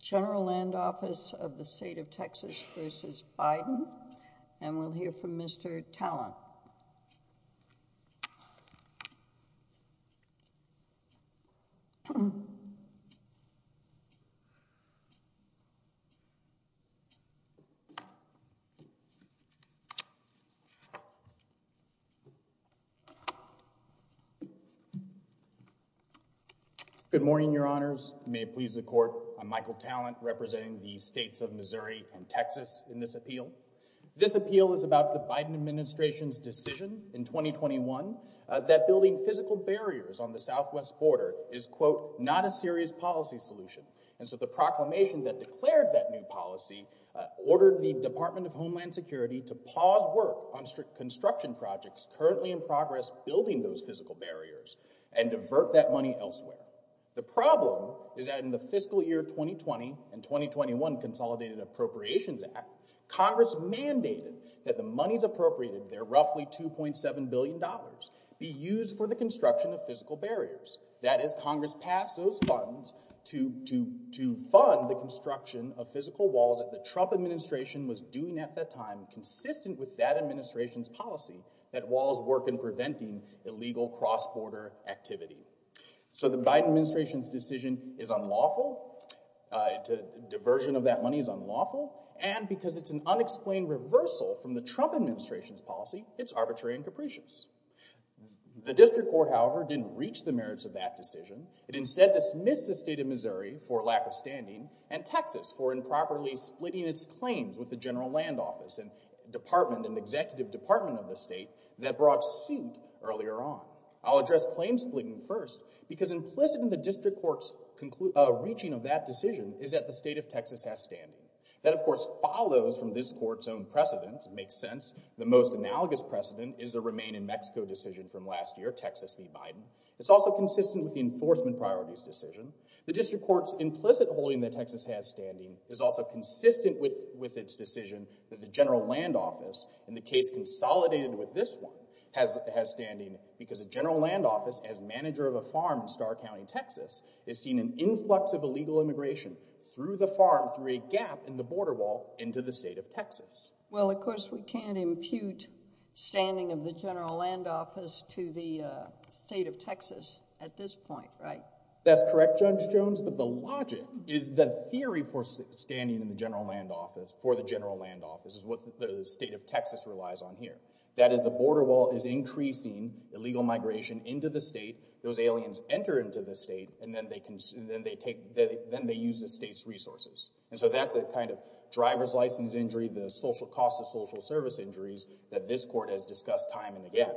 General Land Office of the State of Texas v. Biden, and we'll hear from Mr. Talon. Good morning, your honors. May it please the court. I'm Michael Talon, representing the states of Missouri and Texas in this appeal. This appeal is about the Biden administration's decision in 2021 that building physical barriers on the southwest border is, quote, not a serious policy solution. And so the proclamation that declared that new policy ordered the Department of Homeland Security to pause work on strict construction projects currently in progress building those physical barriers and divert that money elsewhere. The problem is that in the fiscal year 2020 and 2021 Consolidated Appropriations Act, Congress mandated that the appropriated, their roughly $2.7 billion, be used for the construction of physical barriers. That is, Congress passed those funds to fund the construction of physical walls that the Trump administration was doing at that time, consistent with that administration's policy that walls work in preventing illegal cross-border activity. So the Biden administration's decision is unlawful. Diversion of that money is unlawful. And because it's an unexplained reversal from the Trump administration's policy, it's arbitrary and capricious. The district court, however, didn't reach the merits of that decision. It instead dismissed the state of Missouri for lack of standing and Texas for improperly splitting its claims with the general land office and department and executive department of the state that brought suit earlier on. I'll address claim splitting first because implicit in the district court's reaching of that decision is that the most analogous precedent is the Remain in Mexico decision from last year, Texas v. Biden. It's also consistent with the enforcement priorities decision. The district court's implicit holding that Texas has standing is also consistent with its decision that the general land office, and the case consolidated with this one, has standing because a general land office, as manager of a farm in Starr County, Texas, is seeing an influx of illegal immigration through the farm, through a gap in the border wall into the state of Texas. Well, of course, we can't impute standing of the general land office to the state of Texas at this point, right? That's correct, Judge Jones, but the logic is the theory for standing in the general land office for the general land office is what the state of Texas relies on here. That is, the border wall is increasing illegal migration into the state, those aliens enter into the state, and then they use the state's resources. And so that's a kind of driver's license injury, the social cost of social service injuries, that this court has discussed time and again.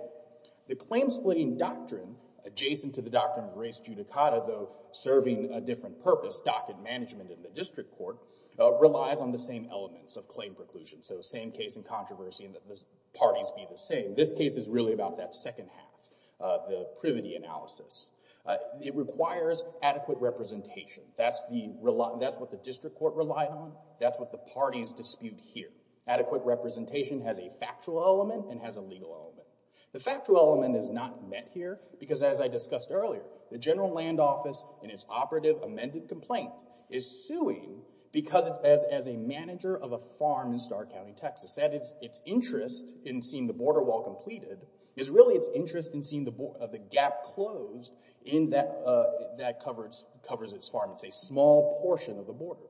The claim splitting doctrine adjacent to the doctrine of res judicata, though serving a different purpose, docket management in the district court, relies on the same elements of claim preclusion. So same case in controversy, parties be the same. This case is really about that second half, the privity analysis. It requires adequate representation. That's what the district court relied on. That's what the parties dispute here. Adequate representation has a factual element and has a legal element. The factual element is not met here because, as I discussed earlier, the general land office, in its operative amended complaint, is suing because as a manager of a farm in Starr County, Texas, its interest in seeing the border wall completed is really its interest in seeing the gap closed in that covers its farm. It's a small portion of the border.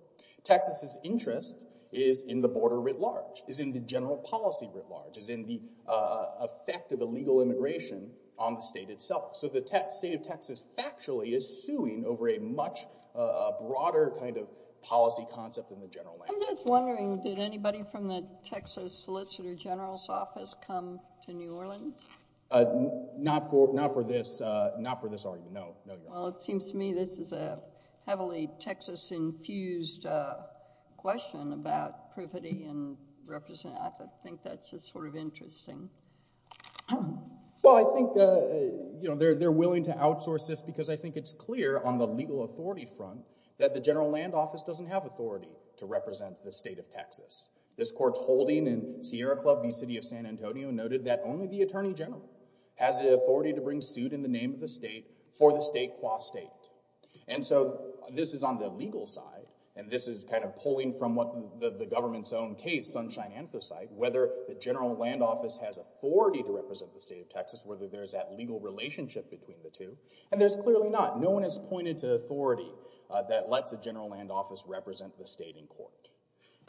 Texas's interest is in the border writ large, is in the general policy writ large, is in the effect of illegal immigration on the state itself. So the state of Texas factually is suing over a much broader kind of policy concept in the general land office. I'm just wondering, did anybody from the Texas Solicitor General's office come to New Orleans? Not for this argument, no. Well, it seems to me this is a heavily Texas-infused question about privity and representation. I think that's just sort of interesting. Well, I think they're willing to outsource this because I think it's clear on a legal authority front that the general land office doesn't have authority to represent the state of Texas. This court's holding in Sierra Club v. City of San Antonio noted that only the attorney general has the authority to bring suit in the name of the state for the state qua state. And so this is on the legal side, and this is kind of pulling from what the government's own case, Sunshine Anthracite, whether the general land office has authority to represent the state of Texas, whether there's that legal relationship between the two. And there's clearly not. No one has pointed to authority that lets a general land office represent the state in court.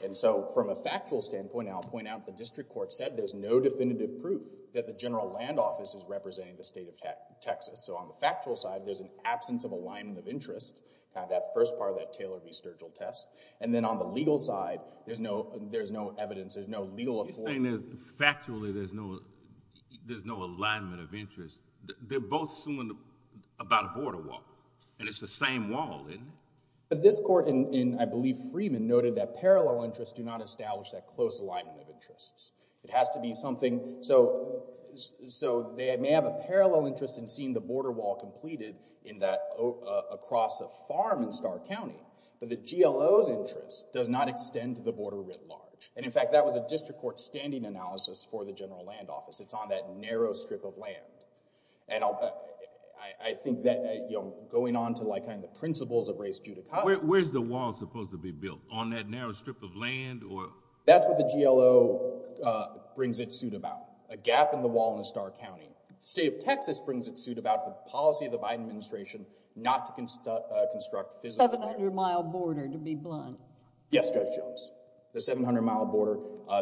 And so from a factual standpoint, I'll point out the district court said there's no definitive proof that the general land office is representing the state of Texas. So on the factual side, there's an absence of alignment of interest, that first part of that Taylor v. Sturgill test. And then on the legal side, there's no evidence, there's no legal authority. Factually, there's no alignment of interest. And it's the same wall, isn't it? But this court in, I believe, Freeman noted that parallel interests do not establish that close alignment of interests. It has to be something. So they may have a parallel interest in seeing the border wall completed in that across a farm in Starr County, but the GLO's interest does not extend to the border writ large. And in fact, that was a district court standing analysis for the general land office. It's on that narrow strip of land. And I think that, you know, going on to like kind of principles of race, where's the wall supposed to be built on that narrow strip of land or that's what the GLO brings its suit about a gap in the wall in Starr County, state of Texas brings its suit about the policy of the Biden administration, not to construct construct physical 700 mile border, to be blunt. Yes, Judge Jones, the 700 mile border,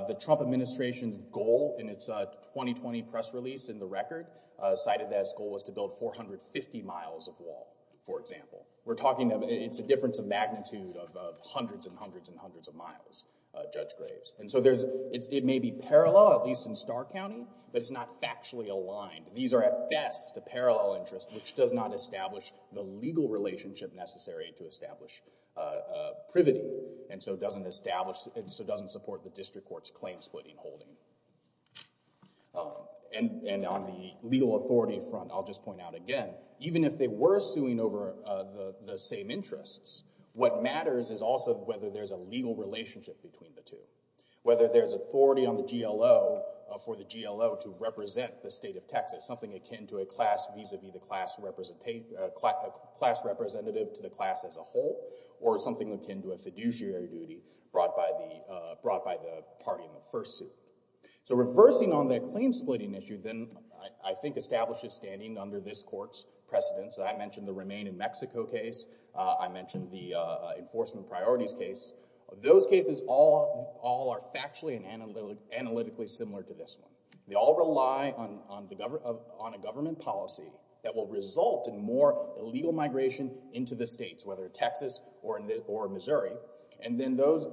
the Trump administration's goal in its 2020 press release in the record cited that its goal was to build 450 miles of wall, for example. We're talking, it's a difference of magnitude of hundreds and hundreds and hundreds of miles, Judge Graves. And so there's, it may be parallel, at least in Starr County, but it's not factually aligned. These are at best a parallel interest, which does not establish the legal relationship necessary to establish privity. And so it doesn't establish, and so doesn't support the district court's claim splitting holding. And on the legal authority front, I'll just point out again, even if they were suing over the same interests, what matters is also whether there's a legal relationship between the two, whether there's authority on the GLO for the GLO to represent the state of Texas, something akin to a class vis-a-vis the class representative, a class representative to the class as a whole, or something akin to a fiduciary duty brought by the party in the first suit. So reversing on the claim splitting issue, then I think establishes standing under this court's precedence. I mentioned the Remain in Mexico case. I mentioned the enforcement priorities case. Those cases all are factually and analytically similar to this one. They all rely on a government policy that will result in more illegal migration into the states, whether Texas or Missouri, and then those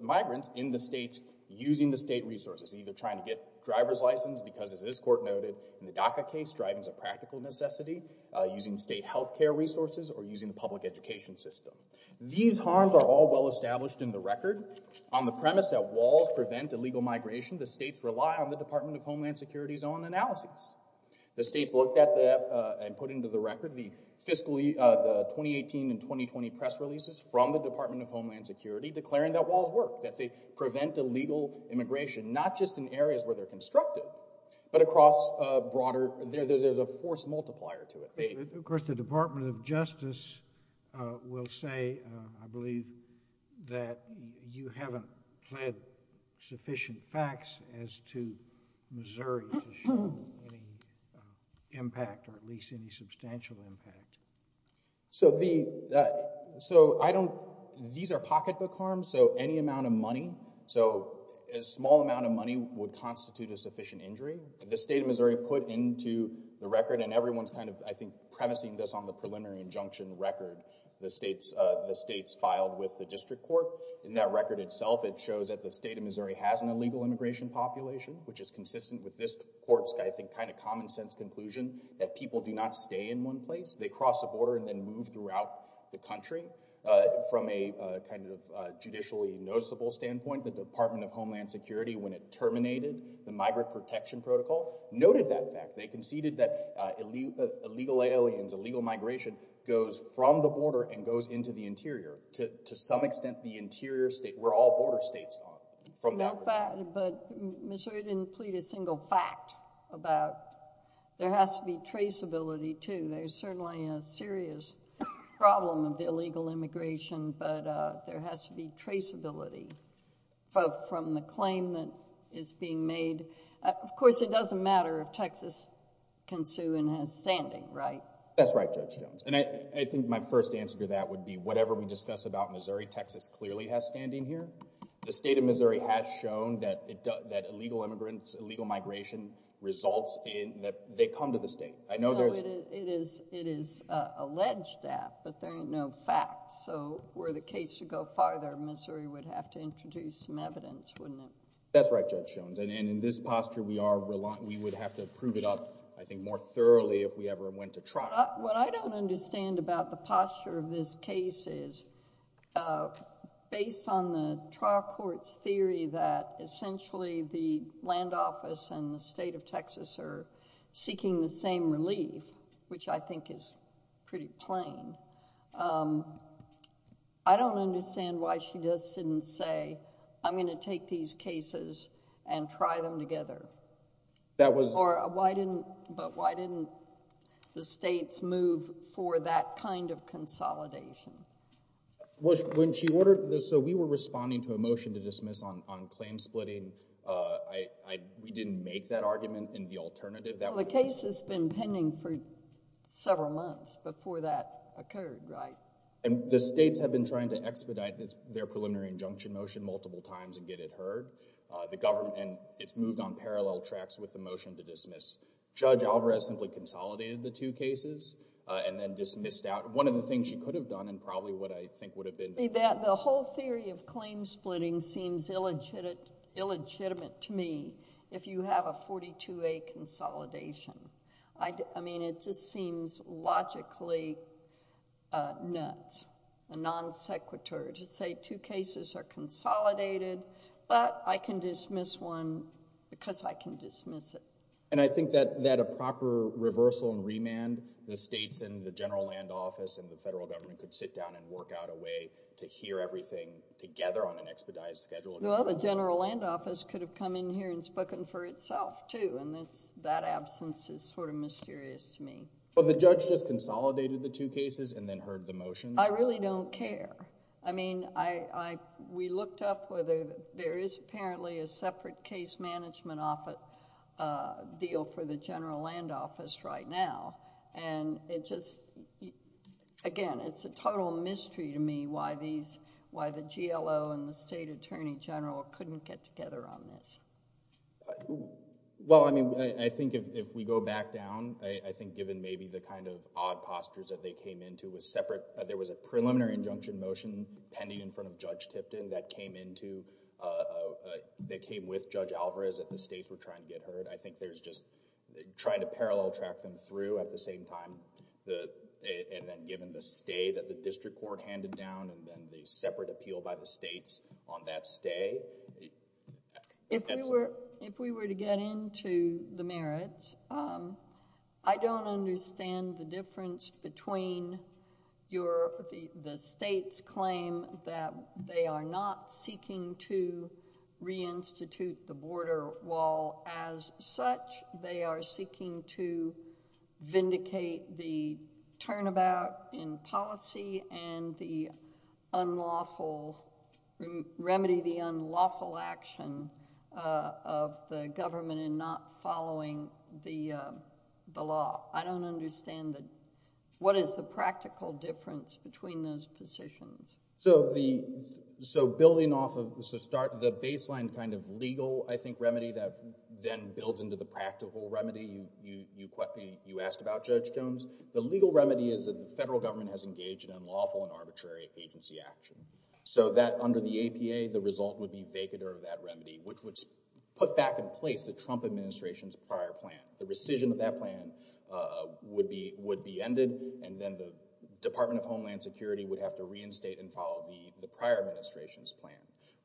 migrants in the states using the state resources, either trying to get driver's license, because as this court noted, in the DACA case, driving's a practical necessity, using state health care resources, or using the public education system. These harms are all well-established in the record. On the premise that walls prevent illegal migration, the states rely on the Department of Homeland Security's own analysis. The states looked at that and put into the record the fiscal, the 2018 and 2020 press releases from the Department of Homeland Security declaring that walls work, that they prevent illegal immigration, not just in areas where they're constructed, but across a broader, there's a force multiplier to it. Of course, the Department of Justice will say, I believe, that you haven't pled sufficient facts as to Missouri to show any impact, or at least any substantial impact. These are pocketbook harms, so any amount of money, a small amount of money would constitute a sufficient injury. The state of Missouri put into the record, and everyone's, I think, premising this on the preliminary injunction record the states filed with the district court. In that record itself, it shows that the state of Missouri has an illegal immigration population, which is consistent with this court's, I think, kind of common sense conclusion that people do not stay in one place. They cross the border and then move throughout the country. From a kind of judicially noticeable standpoint, the Department of Homeland Security, when it terminated the Migrant Protection Protocol, noted that fact. They conceded that illegal aliens, illegal immigrants, were all border states from that record. But Missouri didn't plead a single fact about there has to be traceability, too. There's certainly a serious problem of the illegal immigration, but there has to be traceability, both from the claim that is being made. Of course, it doesn't matter if Texas can sue and has standing, right? That's right, Judge Jones. I think my first answer to that would be whatever we discuss about Missouri, Texas clearly has standing here. The state of Missouri has shown that illegal immigrants, illegal migration, results in that they come to the state. No, it is alleged that, but there are no facts. So were the case to go farther, Missouri would have to introduce some evidence, wouldn't it? That's right, Judge Jones. And in this posture, we would have to prove it up, I think, more thoroughly if we ever went to trial. What I don't understand about the posture of this case is, based on the trial court's theory that essentially the land office and the state of Texas are seeking the same relief, which I think is pretty plain, I don't understand why she just didn't say, I'm going to take these cases and try them together. But why didn't the states move for that kind of consolidation? So we were responding to a motion to dismiss on claim splitting. We didn't make that argument in the alternative. Well, the case has been pending for several months before that occurred, right? And the states have been trying to expedite their preliminary injunction motion multiple times and get it heard, and it's moved on parallel tracks with the motion to dismiss. Judge Alvarez simply consolidated the two cases and then dismissed out. One of the things she could have done and probably what I think would have been— The whole theory of claim splitting seems illegitimate to me if you have a 42A consolidation. I mean, it just seems logically nuts, a non sequitur to say two cases are consolidated, but I can dismiss one because I can dismiss it. And I think that a proper reversal and remand, the states and the general land office and the federal government could sit down and work out a way to hear everything together on an expedited schedule. Well, the general land office could have come in here and spoken for itself too, and that absence is sort of mysterious to me. Well, the judge just consolidated the two cases and then heard the motion. I really don't care. I mean, we looked up whether there is apparently a separate case management deal for the general land office right now, and it just... again, it's a total mystery to me why the GLO and the state attorney general couldn't get together on this. Well, I mean, I think if we go back down, I think given maybe the kind of odd postures that they came into with separate—there was a preliminary injunction motion pending in front of Judge Tipton that came into—that came with Judge Alvarez that the states were trying to get heard. I think there's just trying to parallel track them through at the same time, and then given the stay that the district court handed down and then the separate appeal by the states on that stay. If we were to get into the merits, I don't understand the difference between the states claim that they are not seeking to reinstitute the border wall as such. They are seeking to vindicate the turnabout in policy and the unlawful—remedy the unlawful action of the government in not following the law. I don't understand the—what is the practical difference between those positions? So the—so building off of—so start—the baseline kind of legal, I think, remedy that then builds into the practical remedy you asked about, Judge Jones. The legal remedy is that the federal government has engaged in unlawful and arbitrary agency action. So that under the APA, the result would be vacatur of that remedy, which would put back in place the Trump administration's prior plan. The rescission of that plan would be ended, and then the Department of Homeland Security would have to reinstate and follow the prior administration's plan.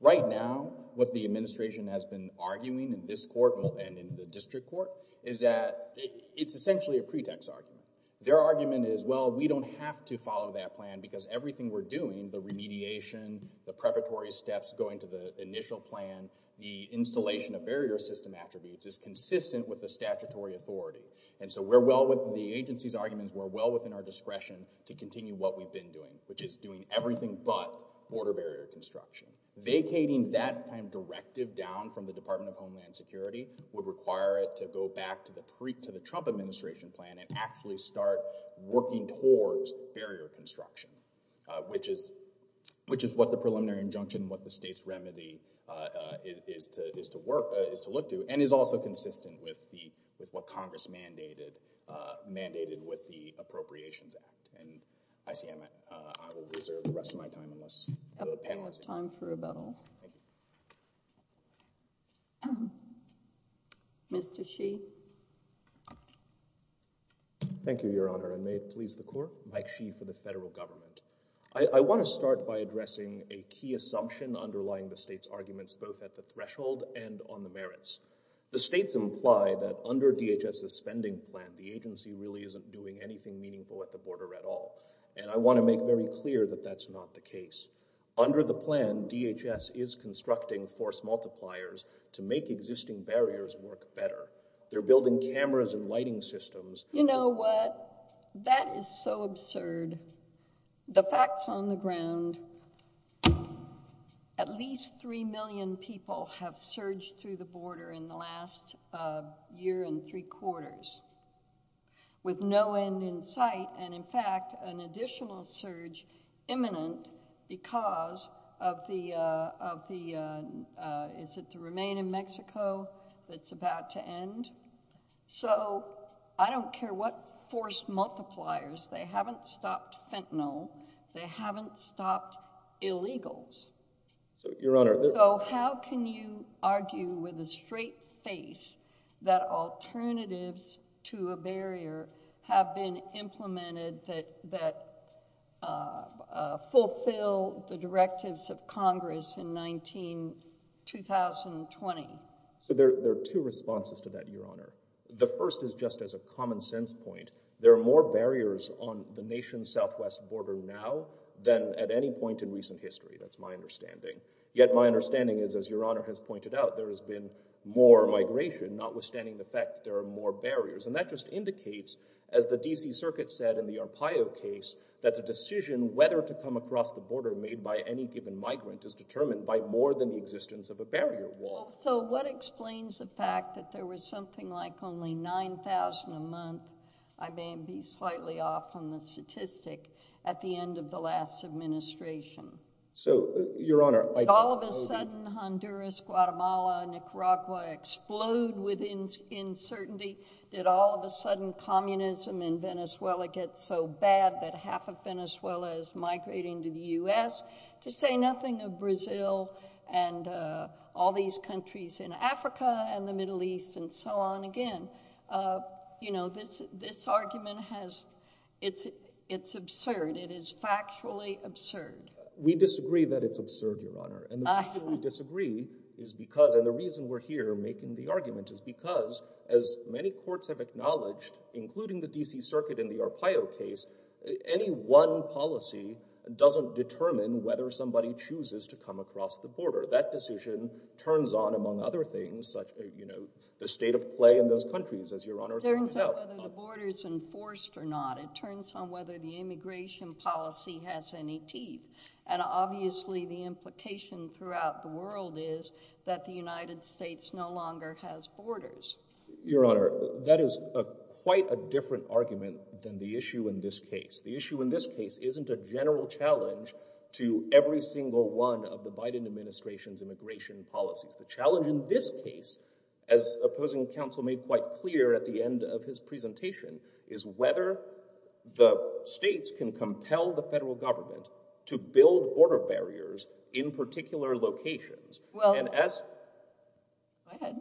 Right now, what the administration has been arguing in this court and in the district court is that it's essentially a pretext argument. Their argument is, well, we don't have to follow that plan because everything we're doing—the remediation, the preparatory steps going to the initial plan, the installation of barrier system attributes—is consistent with the statutory authority. And so we're well within the agency's arguments. We're well within our discretion to continue what we've been doing, which is doing everything but border barrier construction. Vacating that kind of directive down from the Department of Homeland Security would require it to go back to the Trump administration plan and actually start working towards barrier construction, which is what the preliminary injunction, what the state's remedy is to look to, and is also consistent with what Congress mandated with the Appropriations Act. And I see I might—I will reserve the rest of my time unless the panel is— Time for rebuttal. Mr. Sheehy. Thank you, Your Honor, and may it please the Court. Mike Sheehy for the federal government. I want to start by addressing a key assumption underlying the state's arguments both at the threshold and on the merits. The states imply that under DHS's spending plan, the agency really isn't doing anything meaningful at the border at all, and I want to make very clear that that's not the case. Under the plan, DHS is constructing force multipliers to make existing barriers work better. They're building cameras and lighting systems— You know what? That is so absurd. The facts on the ground—at least three million people have surged through the border in the last year and three quarters with no end in sight, and in fact, an additional surge imminent because of the—is it to remain in Mexico that's about to end? So I don't care what force multipliers. They haven't stopped fentanyl. They haven't stopped illegals. So, Your Honor— So why do you argue with a straight face that alternatives to a barrier have been implemented that fulfill the directives of Congress in 19—2020? So there are two responses to that, Your Honor. The first is just as a common-sense point. There are more barriers on the nation's southwest border now than at any point in recent history. That's my understanding. Yet my understanding is, as Your Honor has pointed out, there has been more migration, notwithstanding the fact that there are more barriers. And that just indicates, as the D.C. Circuit said in the Arpaio case, that the decision whether to come across the border made by any given migrant is determined by more than the existence of a barrier wall. So what explains the fact that there was something like only 9,000 a month—I may be slightly off on the statistic—at the end of the last administration? So, Your Honor— Did all of a sudden Honduras, Guatemala, Nicaragua explode with uncertainty? Did all of a sudden communism in Venezuela get so bad that half of Venezuela is migrating to the U.S.? To say nothing of Brazil and all these countries in Africa and the Middle East and so on again. You know, this argument has—it's absurd. It is factually absurd. We disagree that it's absurd, Your Honor. And the reason we disagree is because—and the reason we're here making the argument is because, as many courts have acknowledged, including the D.C. Circuit in the Arpaio case, any one policy doesn't determine whether somebody chooses to come across the border. That decision turns on, among other things, the state of play in those countries, as Your Honor pointed out. It turns on whether the border is enforced or not. It turns on whether the immigration policy has any teeth. And obviously, the implication throughout the world is that the United States no longer has borders. Your Honor, that is quite a different argument than the issue in this case. The issue in this case isn't a general challenge to every single one of the Biden administration's immigration policies. The challenge in this case, as opposing counsel made quite clear at the end of his presentation, is whether the states can compel the federal government to build border barriers in particular locations. Well— And as— Go ahead.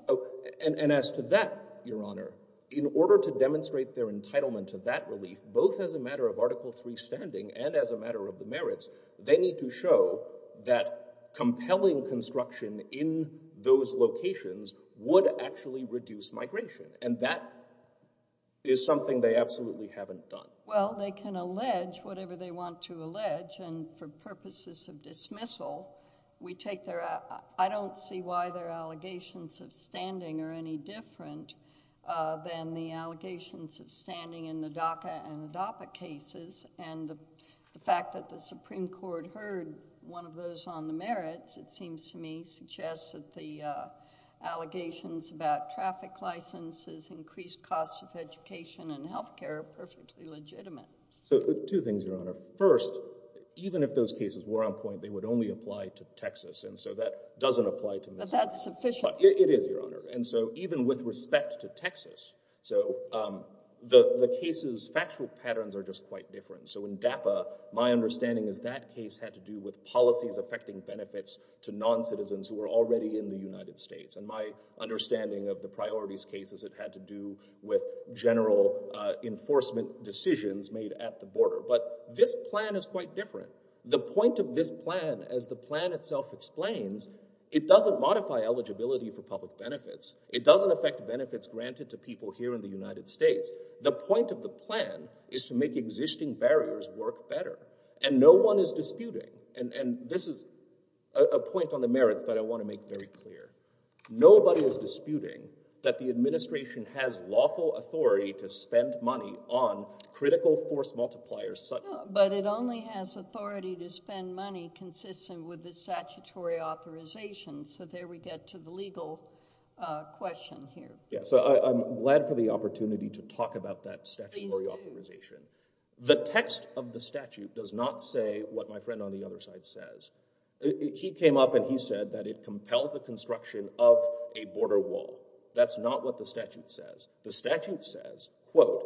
And as to that, Your Honor, in order to demonstrate their entitlement to that relief, both as a matter of Article III standing and as a matter of the merits, they need to show that compelling construction in those locations would actually reduce migration. And that is something they absolutely haven't done. Well, they can allege whatever they want to allege. And for purposes of dismissal, we take their—I don't see why their allegations of standing are any different than the allegations of standing in the DACA and DAPA cases. And the fact that the Supreme Court heard one of those on the merits, it seems to me, suggests that the allegations about traffic licenses, increased costs of education, and health care are perfectly legitimate. So two things, Your Honor. First, even if those cases were on point, they would only apply to Texas. And so that doesn't apply to Missouri. But that's sufficient. It is, Your Honor. And so even with respect to Texas, so the cases' factual patterns are just quite different. So in DAPA, my understanding is that case had to do with policies affecting benefits to non-citizens who were already in the United States. And my understanding of the priorities cases, it had to do with general enforcement decisions made at the border. But this plan is quite different. The point of this plan, as the plan itself explains, it doesn't modify eligibility for public benefits. It doesn't affect benefits granted to people here in the United States. The point of the plan is to make existing barriers work better. And no one is disputing. And this is a point on the merits that I want to make very clear. Nobody is disputing that the administration has lawful authority to spend money on critical force multipliers. But it only has authority to spend money consistent with the statutory authorization. So there we get to the legal question here. Yeah. So I'm glad for the opportunity to talk about that statutory authorization. The text of the statute does not say what my friend on the other side says. He came up and he said that it compels the construction of a border wall. That's not what the statute says. The statute says, quote,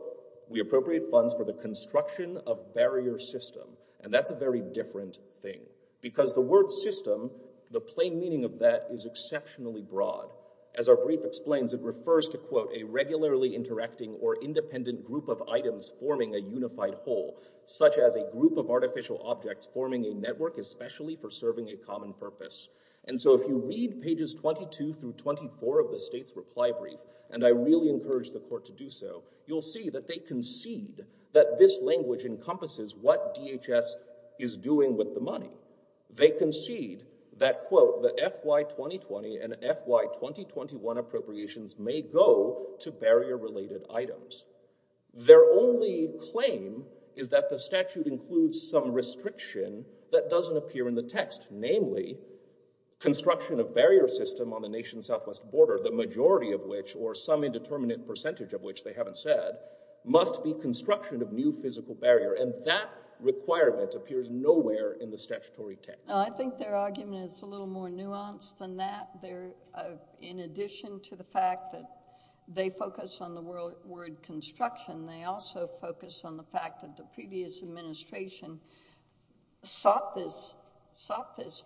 we appropriate funds for the construction of barrier system. And that's a very different thing. Because the word system, the plain meaning of that is exceptionally broad. As our brief explains, it refers to, quote, a regularly interacting or independent group of items forming a unified whole, such as a group of artificial objects forming a network especially for serving a common purpose. And so if you read pages 22 through 24 of the state's reply brief, and I really encourage the court to do so, you'll see that they concede that this language encompasses what DHS is doing with the money. They concede that, quote, the FY 2020 and FY 2021 appropriations may go to barrier-related items. Their only claim is that the statute includes some restriction that doesn't appear in the text. Namely, construction of barrier system on the nation's southwest border, the majority of which, or some indeterminate percentage of which they haven't said, must be construction of new physical barrier. And that requirement appears nowhere in the statutory text. I think their argument is a little more nuanced than that. In addition to the fact that they focus on the word construction, they also focus on the fact that the previous administration sought this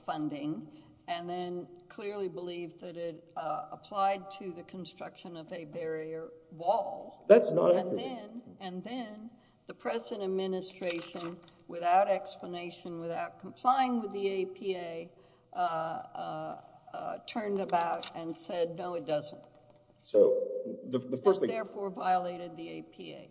funding and then clearly believed that it applied to the construction of a barrier wall. That's not accurate. And then the present administration, without explanation, without complying with the APA, uh, uh, uh, turned about and said, no, it doesn't. So the first thing— That therefore violated the APA.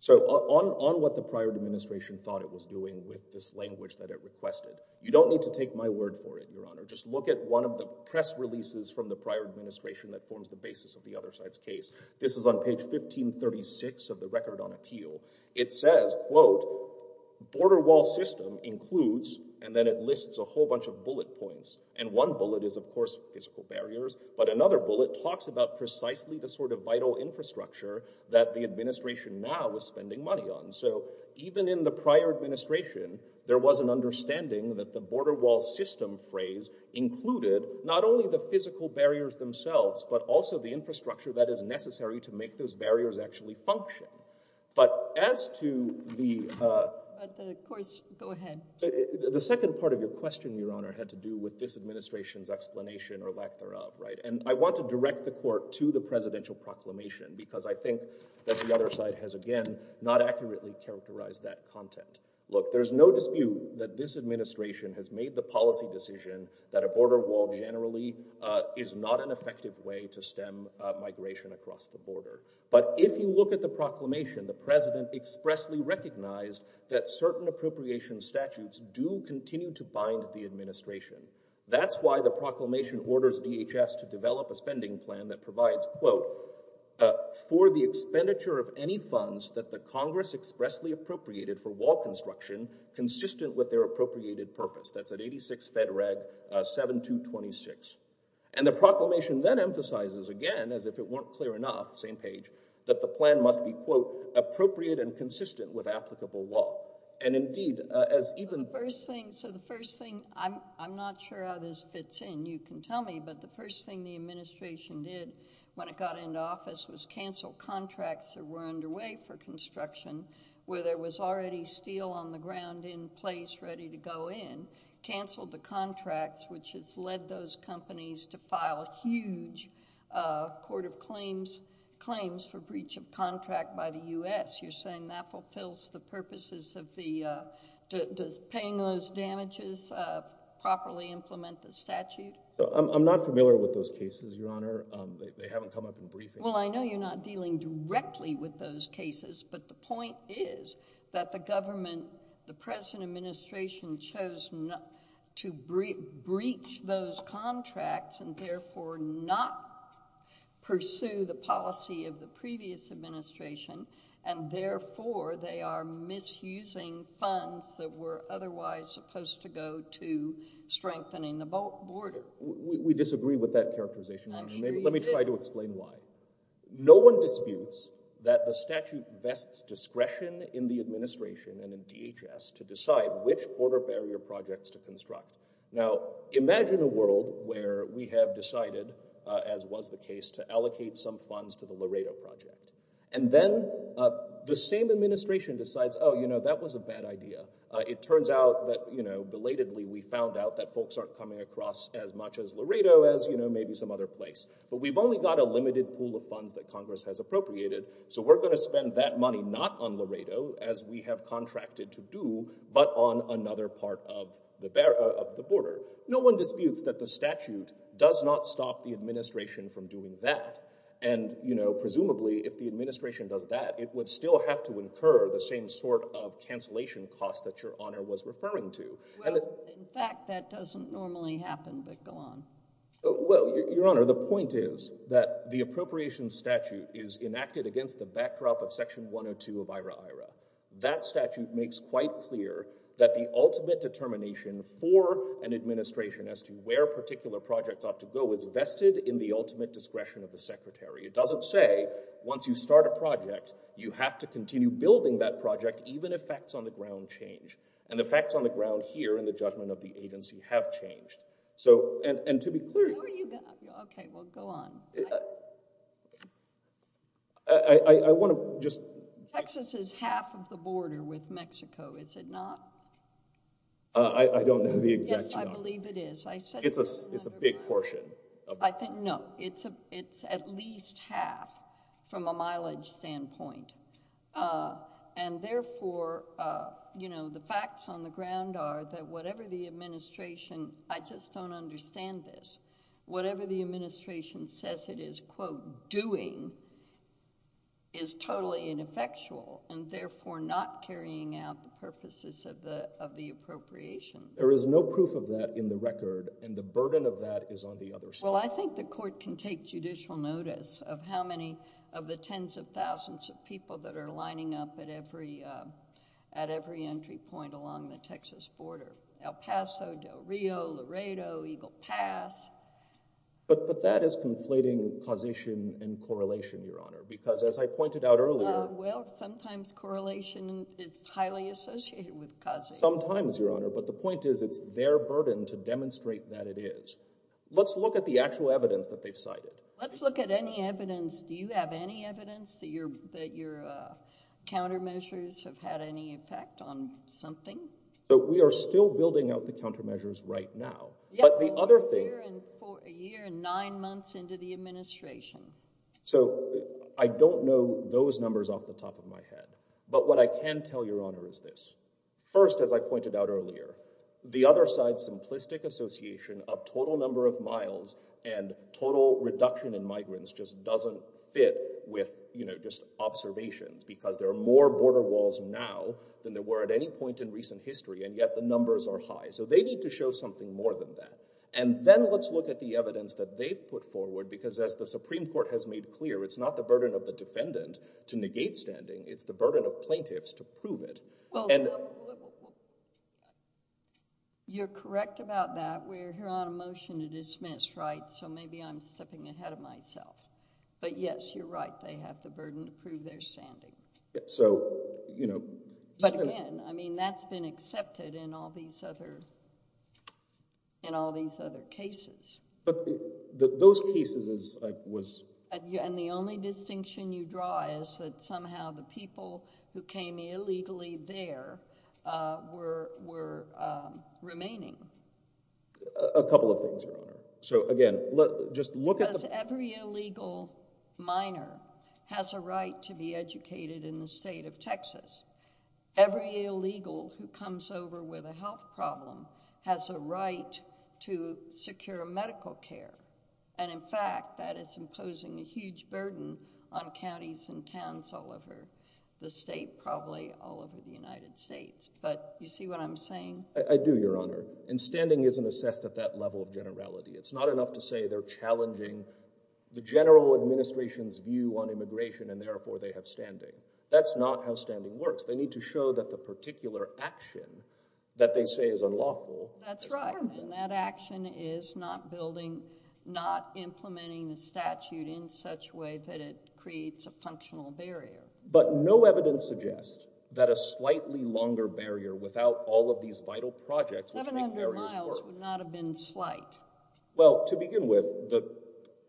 So on, on what the prior administration thought it was doing with this language that it requested, you don't need to take my word for it, Your Honor. Just look at one of the press releases from the prior administration that forms the basis of the other side's case. This is on page 1536 of the Record on Appeal. It says, quote, border wall system includes, and then it lists a whole bunch of bullet points. And one bullet is, of course, physical barriers, but another bullet talks about precisely the sort of vital infrastructure that the administration now is spending money on. So even in the prior administration, there was an understanding that the border wall system phrase included not only the physical barriers themselves, but also the infrastructure that is necessary to make those barriers actually function. But as to the, uh— Of course, go ahead. The second part of your question, Your Honor, had to do with this administration's explanation or lack thereof, right? And I want to direct the Court to the presidential proclamation because I think that the other side has, again, not accurately characterized that content. Look, there's no dispute that this administration has made the policy decision that a border wall generally, uh, is not an effective way to stem, uh, migration across the border. But if you look at the proclamation, the president expressly recognized that certain appropriation statutes do continue to bind the administration. That's why the proclamation orders DHS to develop a spending plan that provides, quote, for the expenditure of any funds that the Congress expressly appropriated for wall construction consistent with their appropriated purpose. That's at 86 Fed Reg, uh, 7226. And the proclamation then emphasizes, again, as if it weren't clear enough, same page, that the plan must be, quote, appropriate and consistent with applicable law. And indeed, uh, as even— The first thing, so the first thing, I'm, I'm not sure how this fits in. You can tell me, but the first thing the administration did when it got into office was cancel contracts that were underway for construction where there was already steel on the ground in place ready to go in, canceled the contracts which has led those companies to file huge, uh, court of claims, claims for breach of contract by the U.S. You're saying that fulfills the purposes of the, uh, does paying those damages, uh, properly implement the statute? I'm, I'm not familiar with those cases, Your Honor. Um, they, they haven't come up in briefing. Well, I know you're not dealing directly with those cases, but the point is that the government, the present administration chose not to breach those contracts and therefore not pursue the policy of the previous administration, and therefore they are misusing funds that were otherwise supposed to go to strengthening the border. We disagree with that characterization, Your Honor. I'm sure you do. Let me try to explain why. No one disputes that the statute vests discretion in the administration and in DHS to decide which border barrier projects to construct. Now, imagine a world where we have decided, uh, as was the case, to allocate some funds to the Laredo project, and then, uh, the same administration decides, oh, you know, that was a bad idea. It turns out that, you know, belatedly we found out that folks aren't coming across as much as Laredo as, you know, maybe some other place. But we've only got a limited pool of funds that Congress has appropriated, so we're going to spend that money not on Laredo, as we have contracted to do, but on another part of the border. No one disputes that the statute does not stop the administration from doing that, and, you know, presumably if the administration does that, it would still have to incur the same sort of cancellation costs that Your Honor was referring to. Well, in fact, that doesn't normally happen, but go on. Well, Your Honor, the point is that the appropriations statute is enacted against the backdrop of Section 102 of IHRA-IHRA. That statute makes quite clear that the ultimate determination for an administration as to where a particular project ought to go is vested in the ultimate discretion of the Secretary. It doesn't say, once you start a project, you have to continue building that project even if facts on the ground change, and the facts on the ground here in the judgment of the agency have changed. So, and to be clear... Where are you going? Okay, well, go on. I want to just... Texas is half of the border with Mexico, is it not? I don't know the exact... Yes, I believe it is. I said... It's a big portion. No, it's at least half from a mileage standpoint, and therefore, you know, the facts on the ground, I just don't understand this. Whatever the administration says it is, quote, doing, is totally ineffectual, and therefore, not carrying out the purposes of the appropriation. There is no proof of that in the record, and the burden of that is on the other side. Well, I think the court can take judicial notice of how many of the tens of thousands of people that are lining up at every entry point along the Texas border. El Paso, Del Rio, Laredo, Eagle Pass. But that is conflating causation and correlation, Your Honor, because as I pointed out earlier... Well, sometimes correlation is highly associated with causation. Sometimes, Your Honor, but the point is it's their burden to demonstrate that it is. Let's look at the actual evidence that they've cited. Let's look at any evidence. Do you have any evidence that your countermeasures have had any effect on something? So, we are still building out the countermeasures right now. But the other thing... A year and nine months into the administration. So, I don't know those numbers off the top of my head. But what I can tell Your Honor is this. First, as I pointed out earlier, the other side's simplistic association of total number of miles and total reduction in migrants just doesn't fit with, you know, just observations, because there are more border walls now than there were at any point in recent history. And yet, the numbers are high. So, they need to show something more than that. And then, let's look at the evidence that they've put forward, because as the Supreme Court has made clear, it's not the burden of the defendant to negate standing. It's the burden of plaintiffs to prove it. You're correct about that. We're here on a motion to dismiss, right? So, maybe I'm stepping ahead of myself. But yes, you're right. They have the burden to prove their standing. So, you know... But again, I mean, that's been accepted in all these other cases. But those cases was... And the only distinction you draw is that somehow the people who came illegally there were remaining. A couple of things, Your Honor. So, again, just look at the... Every illegal minor has a right to be educated in the state of Texas. Every illegal who comes over with a health problem has a right to secure medical care. And in fact, that is imposing a huge burden on counties and towns all over the state, probably all over the United States. But you see what I'm saying? I do, Your Honor. And standing isn't assessed at that level of generality. It's not enough to say they're challenging the general administration's view on immigration and therefore they have standing. That's not how standing works. They need to show that the particular action that they say is unlawful... That's right. And that action is not building... not implementing the statute in such a way that it creates a functional barrier. But no evidence suggests that a slightly longer barrier without all of these vital projects...... would not have been slight. Well, to begin with,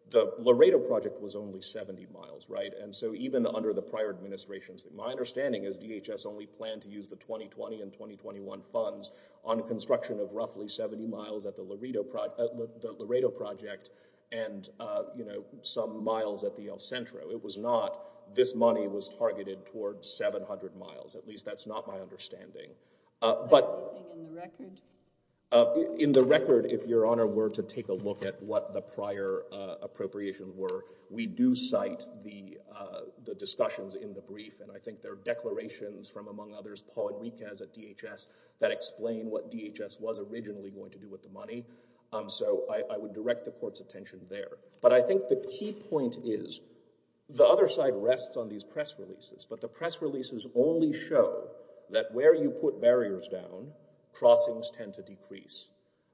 the Laredo Project was only 70 miles, right? And so even under the prior administrations, my understanding is DHS only planned to use the 2020 and 2021 funds on construction of roughly 70 miles at the Laredo Project and, you know, some miles at the El Centro. It was not... this money was targeted towards 700 miles. At least that's not my understanding. But... In the record, if Your Honor were to take a look at what the prior appropriations were, we do cite the discussions in the brief. And I think there are declarations from, among others, Paul Enriquez at DHS that explain what DHS was originally going to do with the money. So I would direct the Court's attention there. But I think the key point is the other side rests on these press releases. But the press releases only show that where you put barriers down, crossings tend to decrease.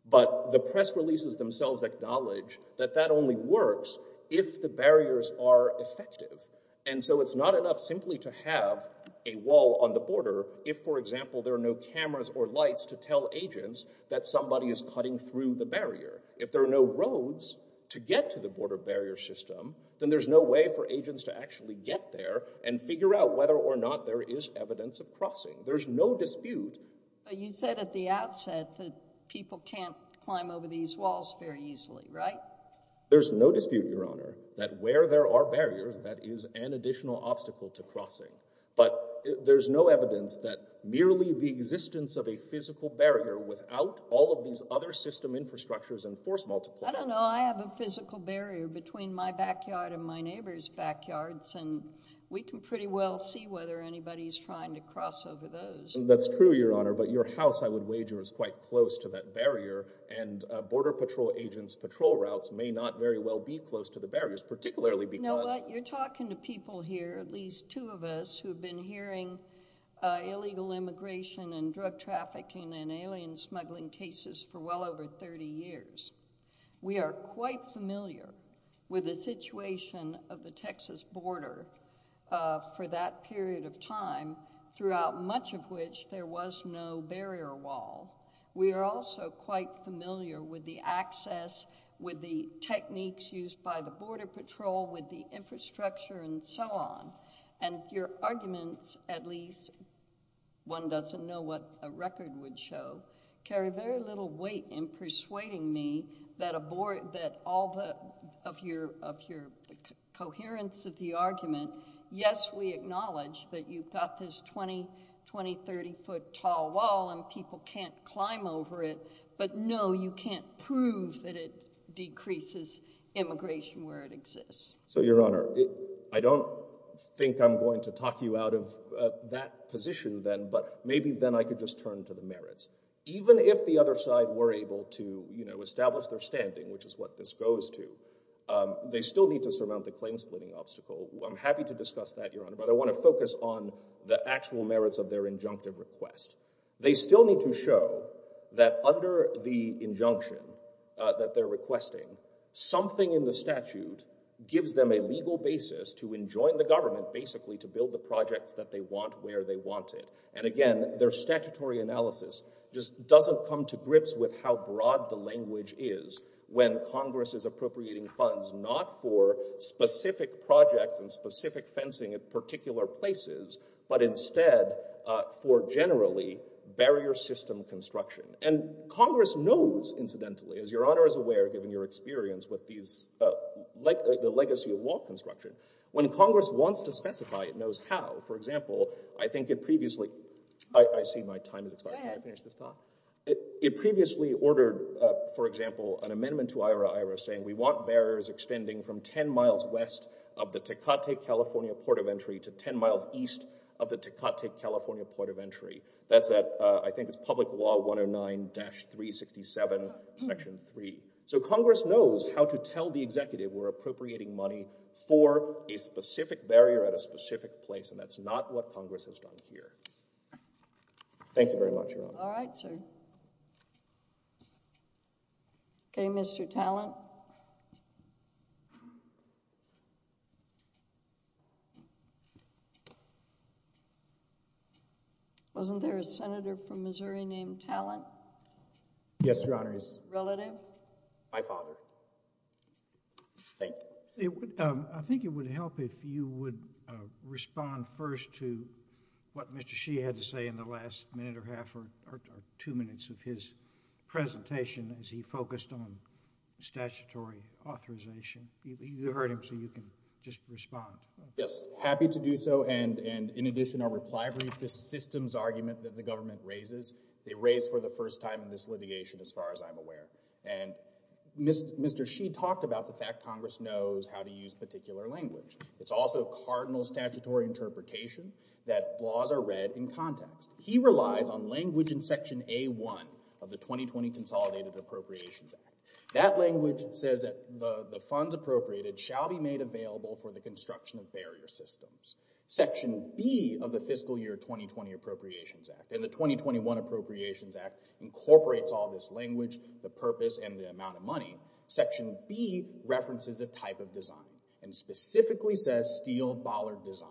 But the press releases themselves acknowledge that that only works if the barriers are effective. And so it's not enough simply to have a wall on the border if, for example, there are no cameras or lights to tell agents that somebody is cutting through the barrier. If there are no roads to get to the border barrier system, then there's no way for agents to actually get there and figure out whether or not there is evidence of crossing. There's no dispute. But you said at the outset that people can't climb over these walls very easily, right? There's no dispute, Your Honor, that where there are barriers, that is an additional obstacle to crossing. But there's no evidence that merely the existence of a physical barrier without all of these other system infrastructures and force multipliers— I don't know. I have a physical barrier between my backyard and my neighbor's backyards, and we can pretty well see whether anybody's trying to cross over those. That's true, Your Honor. But your house, I would wager, is quite close to that barrier, and Border Patrol agents' patrol routes may not very well be close to the barriers, particularly because— You know what? You're talking to people here, at least two of us, who have been hearing illegal immigration and drug trafficking and alien smuggling cases for well over 30 years. We are quite familiar with the situation of the Texas border for that period of time, throughout much of which there was no barrier wall. We are also quite familiar with the access, with the techniques used by the Border Patrol, with the infrastructure, and so on. And your arguments, at least—one doesn't know what a record would show— carry very little weight in persuading me that all of your coherence of the argument— 20, 30-foot-tall wall and people can't climb over it, but no, you can't prove that it decreases immigration where it exists. So, Your Honor, I don't think I'm going to talk you out of that position then, but maybe then I could just turn to the merits. Even if the other side were able to establish their standing, which is what this goes to, they still need to surmount the claim-splitting obstacle. I'm happy to discuss that, Your Honor, but I want to focus on the actual merits of their injunctive request. They still need to show that under the injunction that they're requesting, something in the statute gives them a legal basis to enjoin the government, basically, to build the projects that they want where they want it. And again, their statutory analysis just doesn't come to grips with how broad the language is when Congress is appropriating funds not for specific projects and specific fencing. It's particular places, but instead for generally barrier system construction. And Congress knows, incidentally, as Your Honor is aware, given your experience with the legacy of wall construction, when Congress wants to specify, it knows how. For example, I think it previously—I see my time is expired. Can I finish this talk? It previously ordered, for example, an amendment to IHRA-IHRA saying, we want barriers extending from 10 miles west of the Tecate, California, Port of Entry to 10 miles east of the Tecate, California, Port of Entry. That's at, I think it's Public Law 109-367, Section 3. So Congress knows how to tell the executive we're appropriating money for a specific barrier at a specific place, and that's not what Congress has done here. Thank you very much, Your Honor. All right, sir. Okay, Mr. Tallent. Wasn't there a senator from Missouri named Tallent? Yes, Your Honor, he's— Relative? My father. I think it would help if you would respond first to what Mr. Shee had to say in the last minute or half or two minutes of his presentation as he focused on statutory authorization. You heard him, so you can just respond. Yes, happy to do so, and in addition, our reply brief, this systems argument that the government raises, they raised for the first time in this litigation, as far as I'm aware, and Mr. Shee talked about the fact Congress knows how to use particular language. It's also cardinal statutory interpretation that laws are read in context. He relies on language in Section A.1 of the 2020 Consolidated Appropriations Act. That language says that the funds appropriated shall be made available for the construction of barrier systems. Section B of the Fiscal Year 2020 Appropriations Act, and the 2021 Appropriations Act incorporates all this language, the purpose, and the amount of money. Section B references a type of design and specifically says steel bollard design.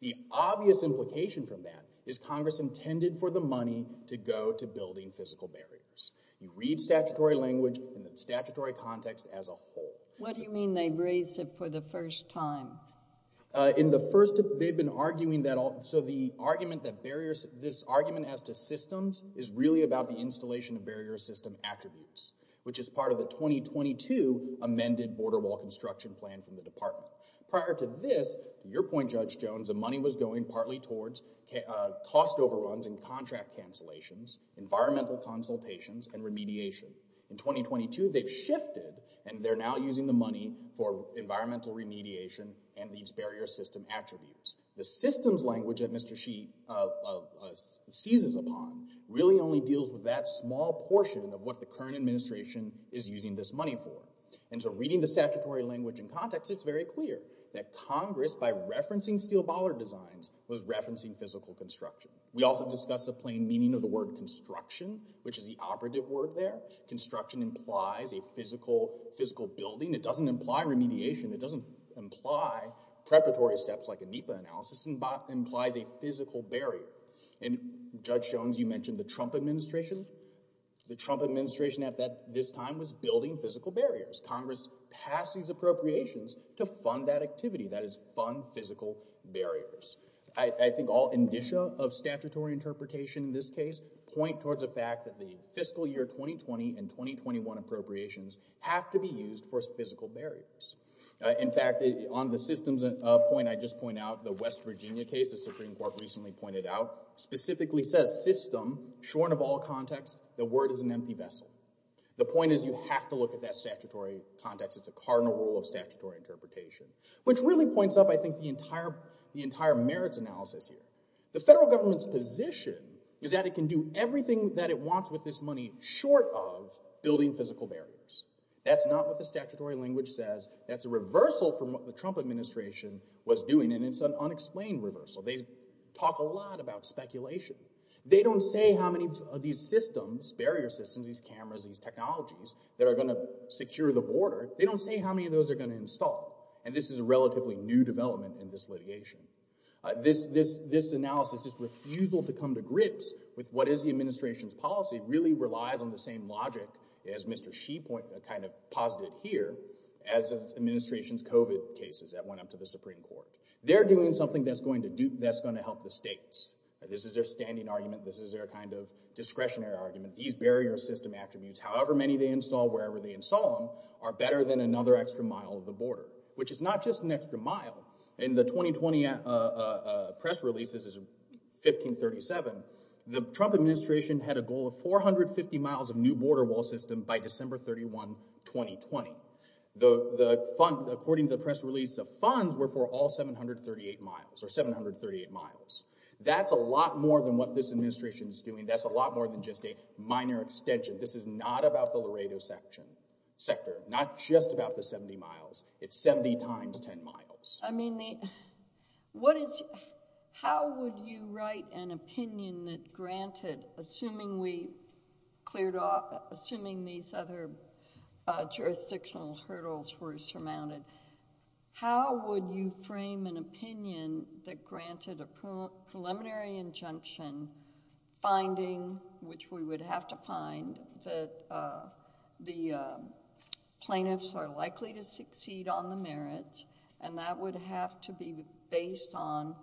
The obvious implication from that is Congress intended for the money to go to building physical barriers. You read statutory language in the statutory context as a whole. What do you mean they raised it for the first time? In the first, they've been arguing that all, so the argument that barriers, this argument as to systems is really about the installation of barrier system attributes, which is part of the 2022 amended border wall construction plan from the department. Prior to this, your point, Judge Jones, the money was going partly towards cost overruns and contract cancellations, environmental consultations, and remediation. In 2022, they've shifted and they're now using the money for environmental remediation and these barrier system attributes. The systems language that Mr. Sheeh seizes upon really only deals with that small portion of what the current administration is using this money for. Reading the statutory language in context, it's very clear that Congress, by referencing steel bollard designs, was referencing physical construction. We also discuss the plain meaning of the word construction, which is the operative word there. Construction implies a physical building. It doesn't imply remediation. It doesn't imply preparatory steps like a NEPA analysis, it implies a physical barrier. Judge Jones, you mentioned the Trump administration. The Trump administration at this time was building physical barriers. Congress passed these appropriations to fund that activity. That is fund physical barriers. I think all indicia of statutory interpretation in this case point towards the fact that the fiscal year 2020 and 2021 appropriations have to be used for physical barriers. In fact, on the systems point I just pointed out, the West Virginia case the Supreme Court recently pointed out, specifically says system, shorn of all context, the word is an empty vessel. The point is you have to look at that statutory context. It's a cardinal rule of statutory interpretation. Which really points up, I think, the entire merits analysis here. The federal government's position is that it can do everything that it wants with this money short of building physical barriers. That's not what the statutory language says. That's a reversal from what the Trump administration was doing, and it's an unexplained reversal. They talk a lot about speculation. They don't say how many of these systems, barrier systems, these cameras, these technologies that are going to secure the border. They don't say how many of those are going to install, and this is a relatively new development in this litigation. This analysis, this refusal to come to grips with what is the administration's policy, really relies on the same logic as Mr. Xi kind of posited here as the administration's COVID cases that went up to the Supreme Court. They're doing something that's going to help the states. This is their standing argument. This is their kind of discretionary argument. These barrier system attributes, however many they install, wherever they install them, are better than another extra mile of the border, which is not just an extra mile. In the 2020 press release, this is 1537, the Trump administration had a goal of 450 miles of new border wall system by December 31, 2020. The fund, according to the press release, the funds were for all 738 miles or 738 miles. That's a lot more than what this administration is doing. That's a lot more than just a minor extension. This is not about the Laredo sector, not just about the 70 miles. It's 70 times 10 miles. I mean, what is, how would you write an opinion that granted, assuming we cleared off, assuming these other jurisdictional hurdles were surmounted, how would you frame an opinion that granted a preliminary injunction finding, which we would have to find, that the plaintiffs are likely to succeed on the merits, and that would have to be based on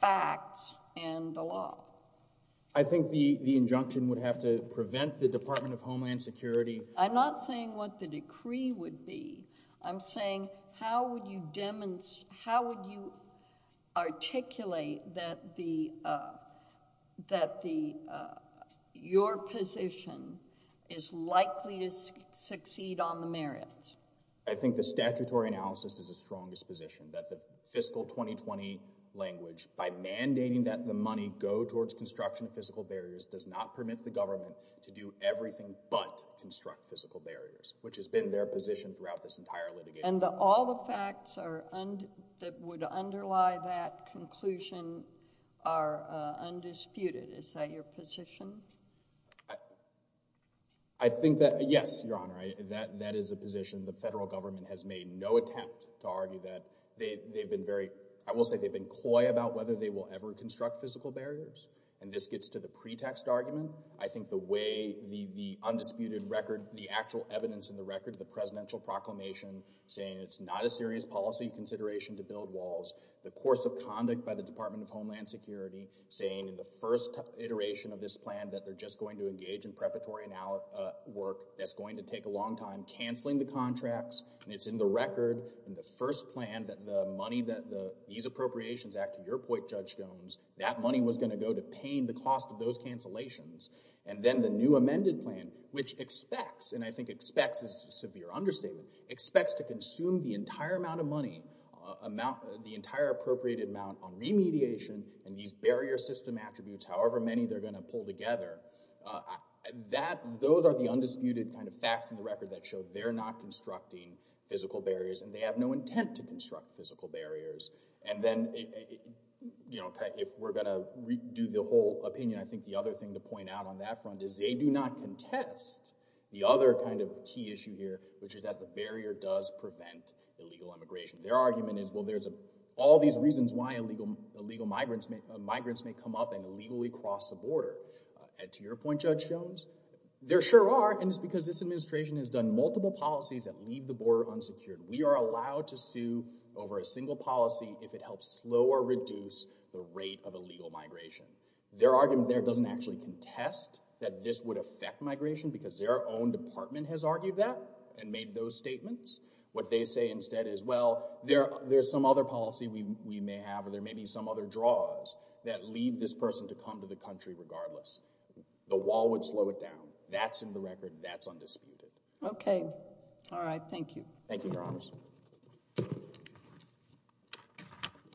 facts and the law? I think the injunction would have to prevent the Department of Homeland Security. I'm not saying what the decree would be. I'm saying, how would you articulate that your position is likely to succeed on the merits? I think the statutory analysis is the strongest position, that the fiscal 2020 language, by mandating that the money go towards construction of physical barriers, does not permit the government to do everything but construct physical barriers, which has been their position throughout this entire litigation. And all the facts that would underlie that conclusion are undisputed. Is that your position? I think that, yes, Your Honor. That is a position the federal government has made no attempt to argue that. They've been very—I will say they've been coy about whether they will ever construct physical barriers. And this gets to the pretext argument. I think the way—the undisputed record, the actual evidence in the record, the presidential proclamation saying it's not a serious policy consideration to build walls, the course of conduct by the Department of Homeland Security saying in the first iteration of this plan that they're just going to engage in preparatory work that's going to take a long time, canceling the contracts, and it's in the record in the first plan that the money that these appropriations act to your point, Judge Jones, that money was going to go to paying the cost of those cancellations. And then the new amended plan, which expects—and I think expects is a severe understatement—expects to consume the entire amount of money, the entire appropriated amount on remediation and these barrier system attributes, however many they're going to pull together. That—those are the undisputed kind of facts in the record that show they're not constructing physical barriers and they have no intent to construct physical barriers. And then, you know, if we're going to redo the whole opinion, I think the other thing to point out on that front is they do not contest the other kind of key issue here, which is that the barrier does prevent illegal immigration. Their argument is, well, there's all these reasons why illegal migrants may come up and your point, Judge Jones, there sure are, and it's because this administration has done multiple policies that leave the border unsecured. We are allowed to sue over a single policy if it helps slow or reduce the rate of illegal migration. Their argument there doesn't actually contest that this would affect migration because their own department has argued that and made those statements. What they say instead is, well, there's some other policy we may have or there may be some other draws that lead this person to come to the country regardless. The wall would slow it down. That's in the record. That's undisputed. Okay. Thank you. Thank you, Your Honors.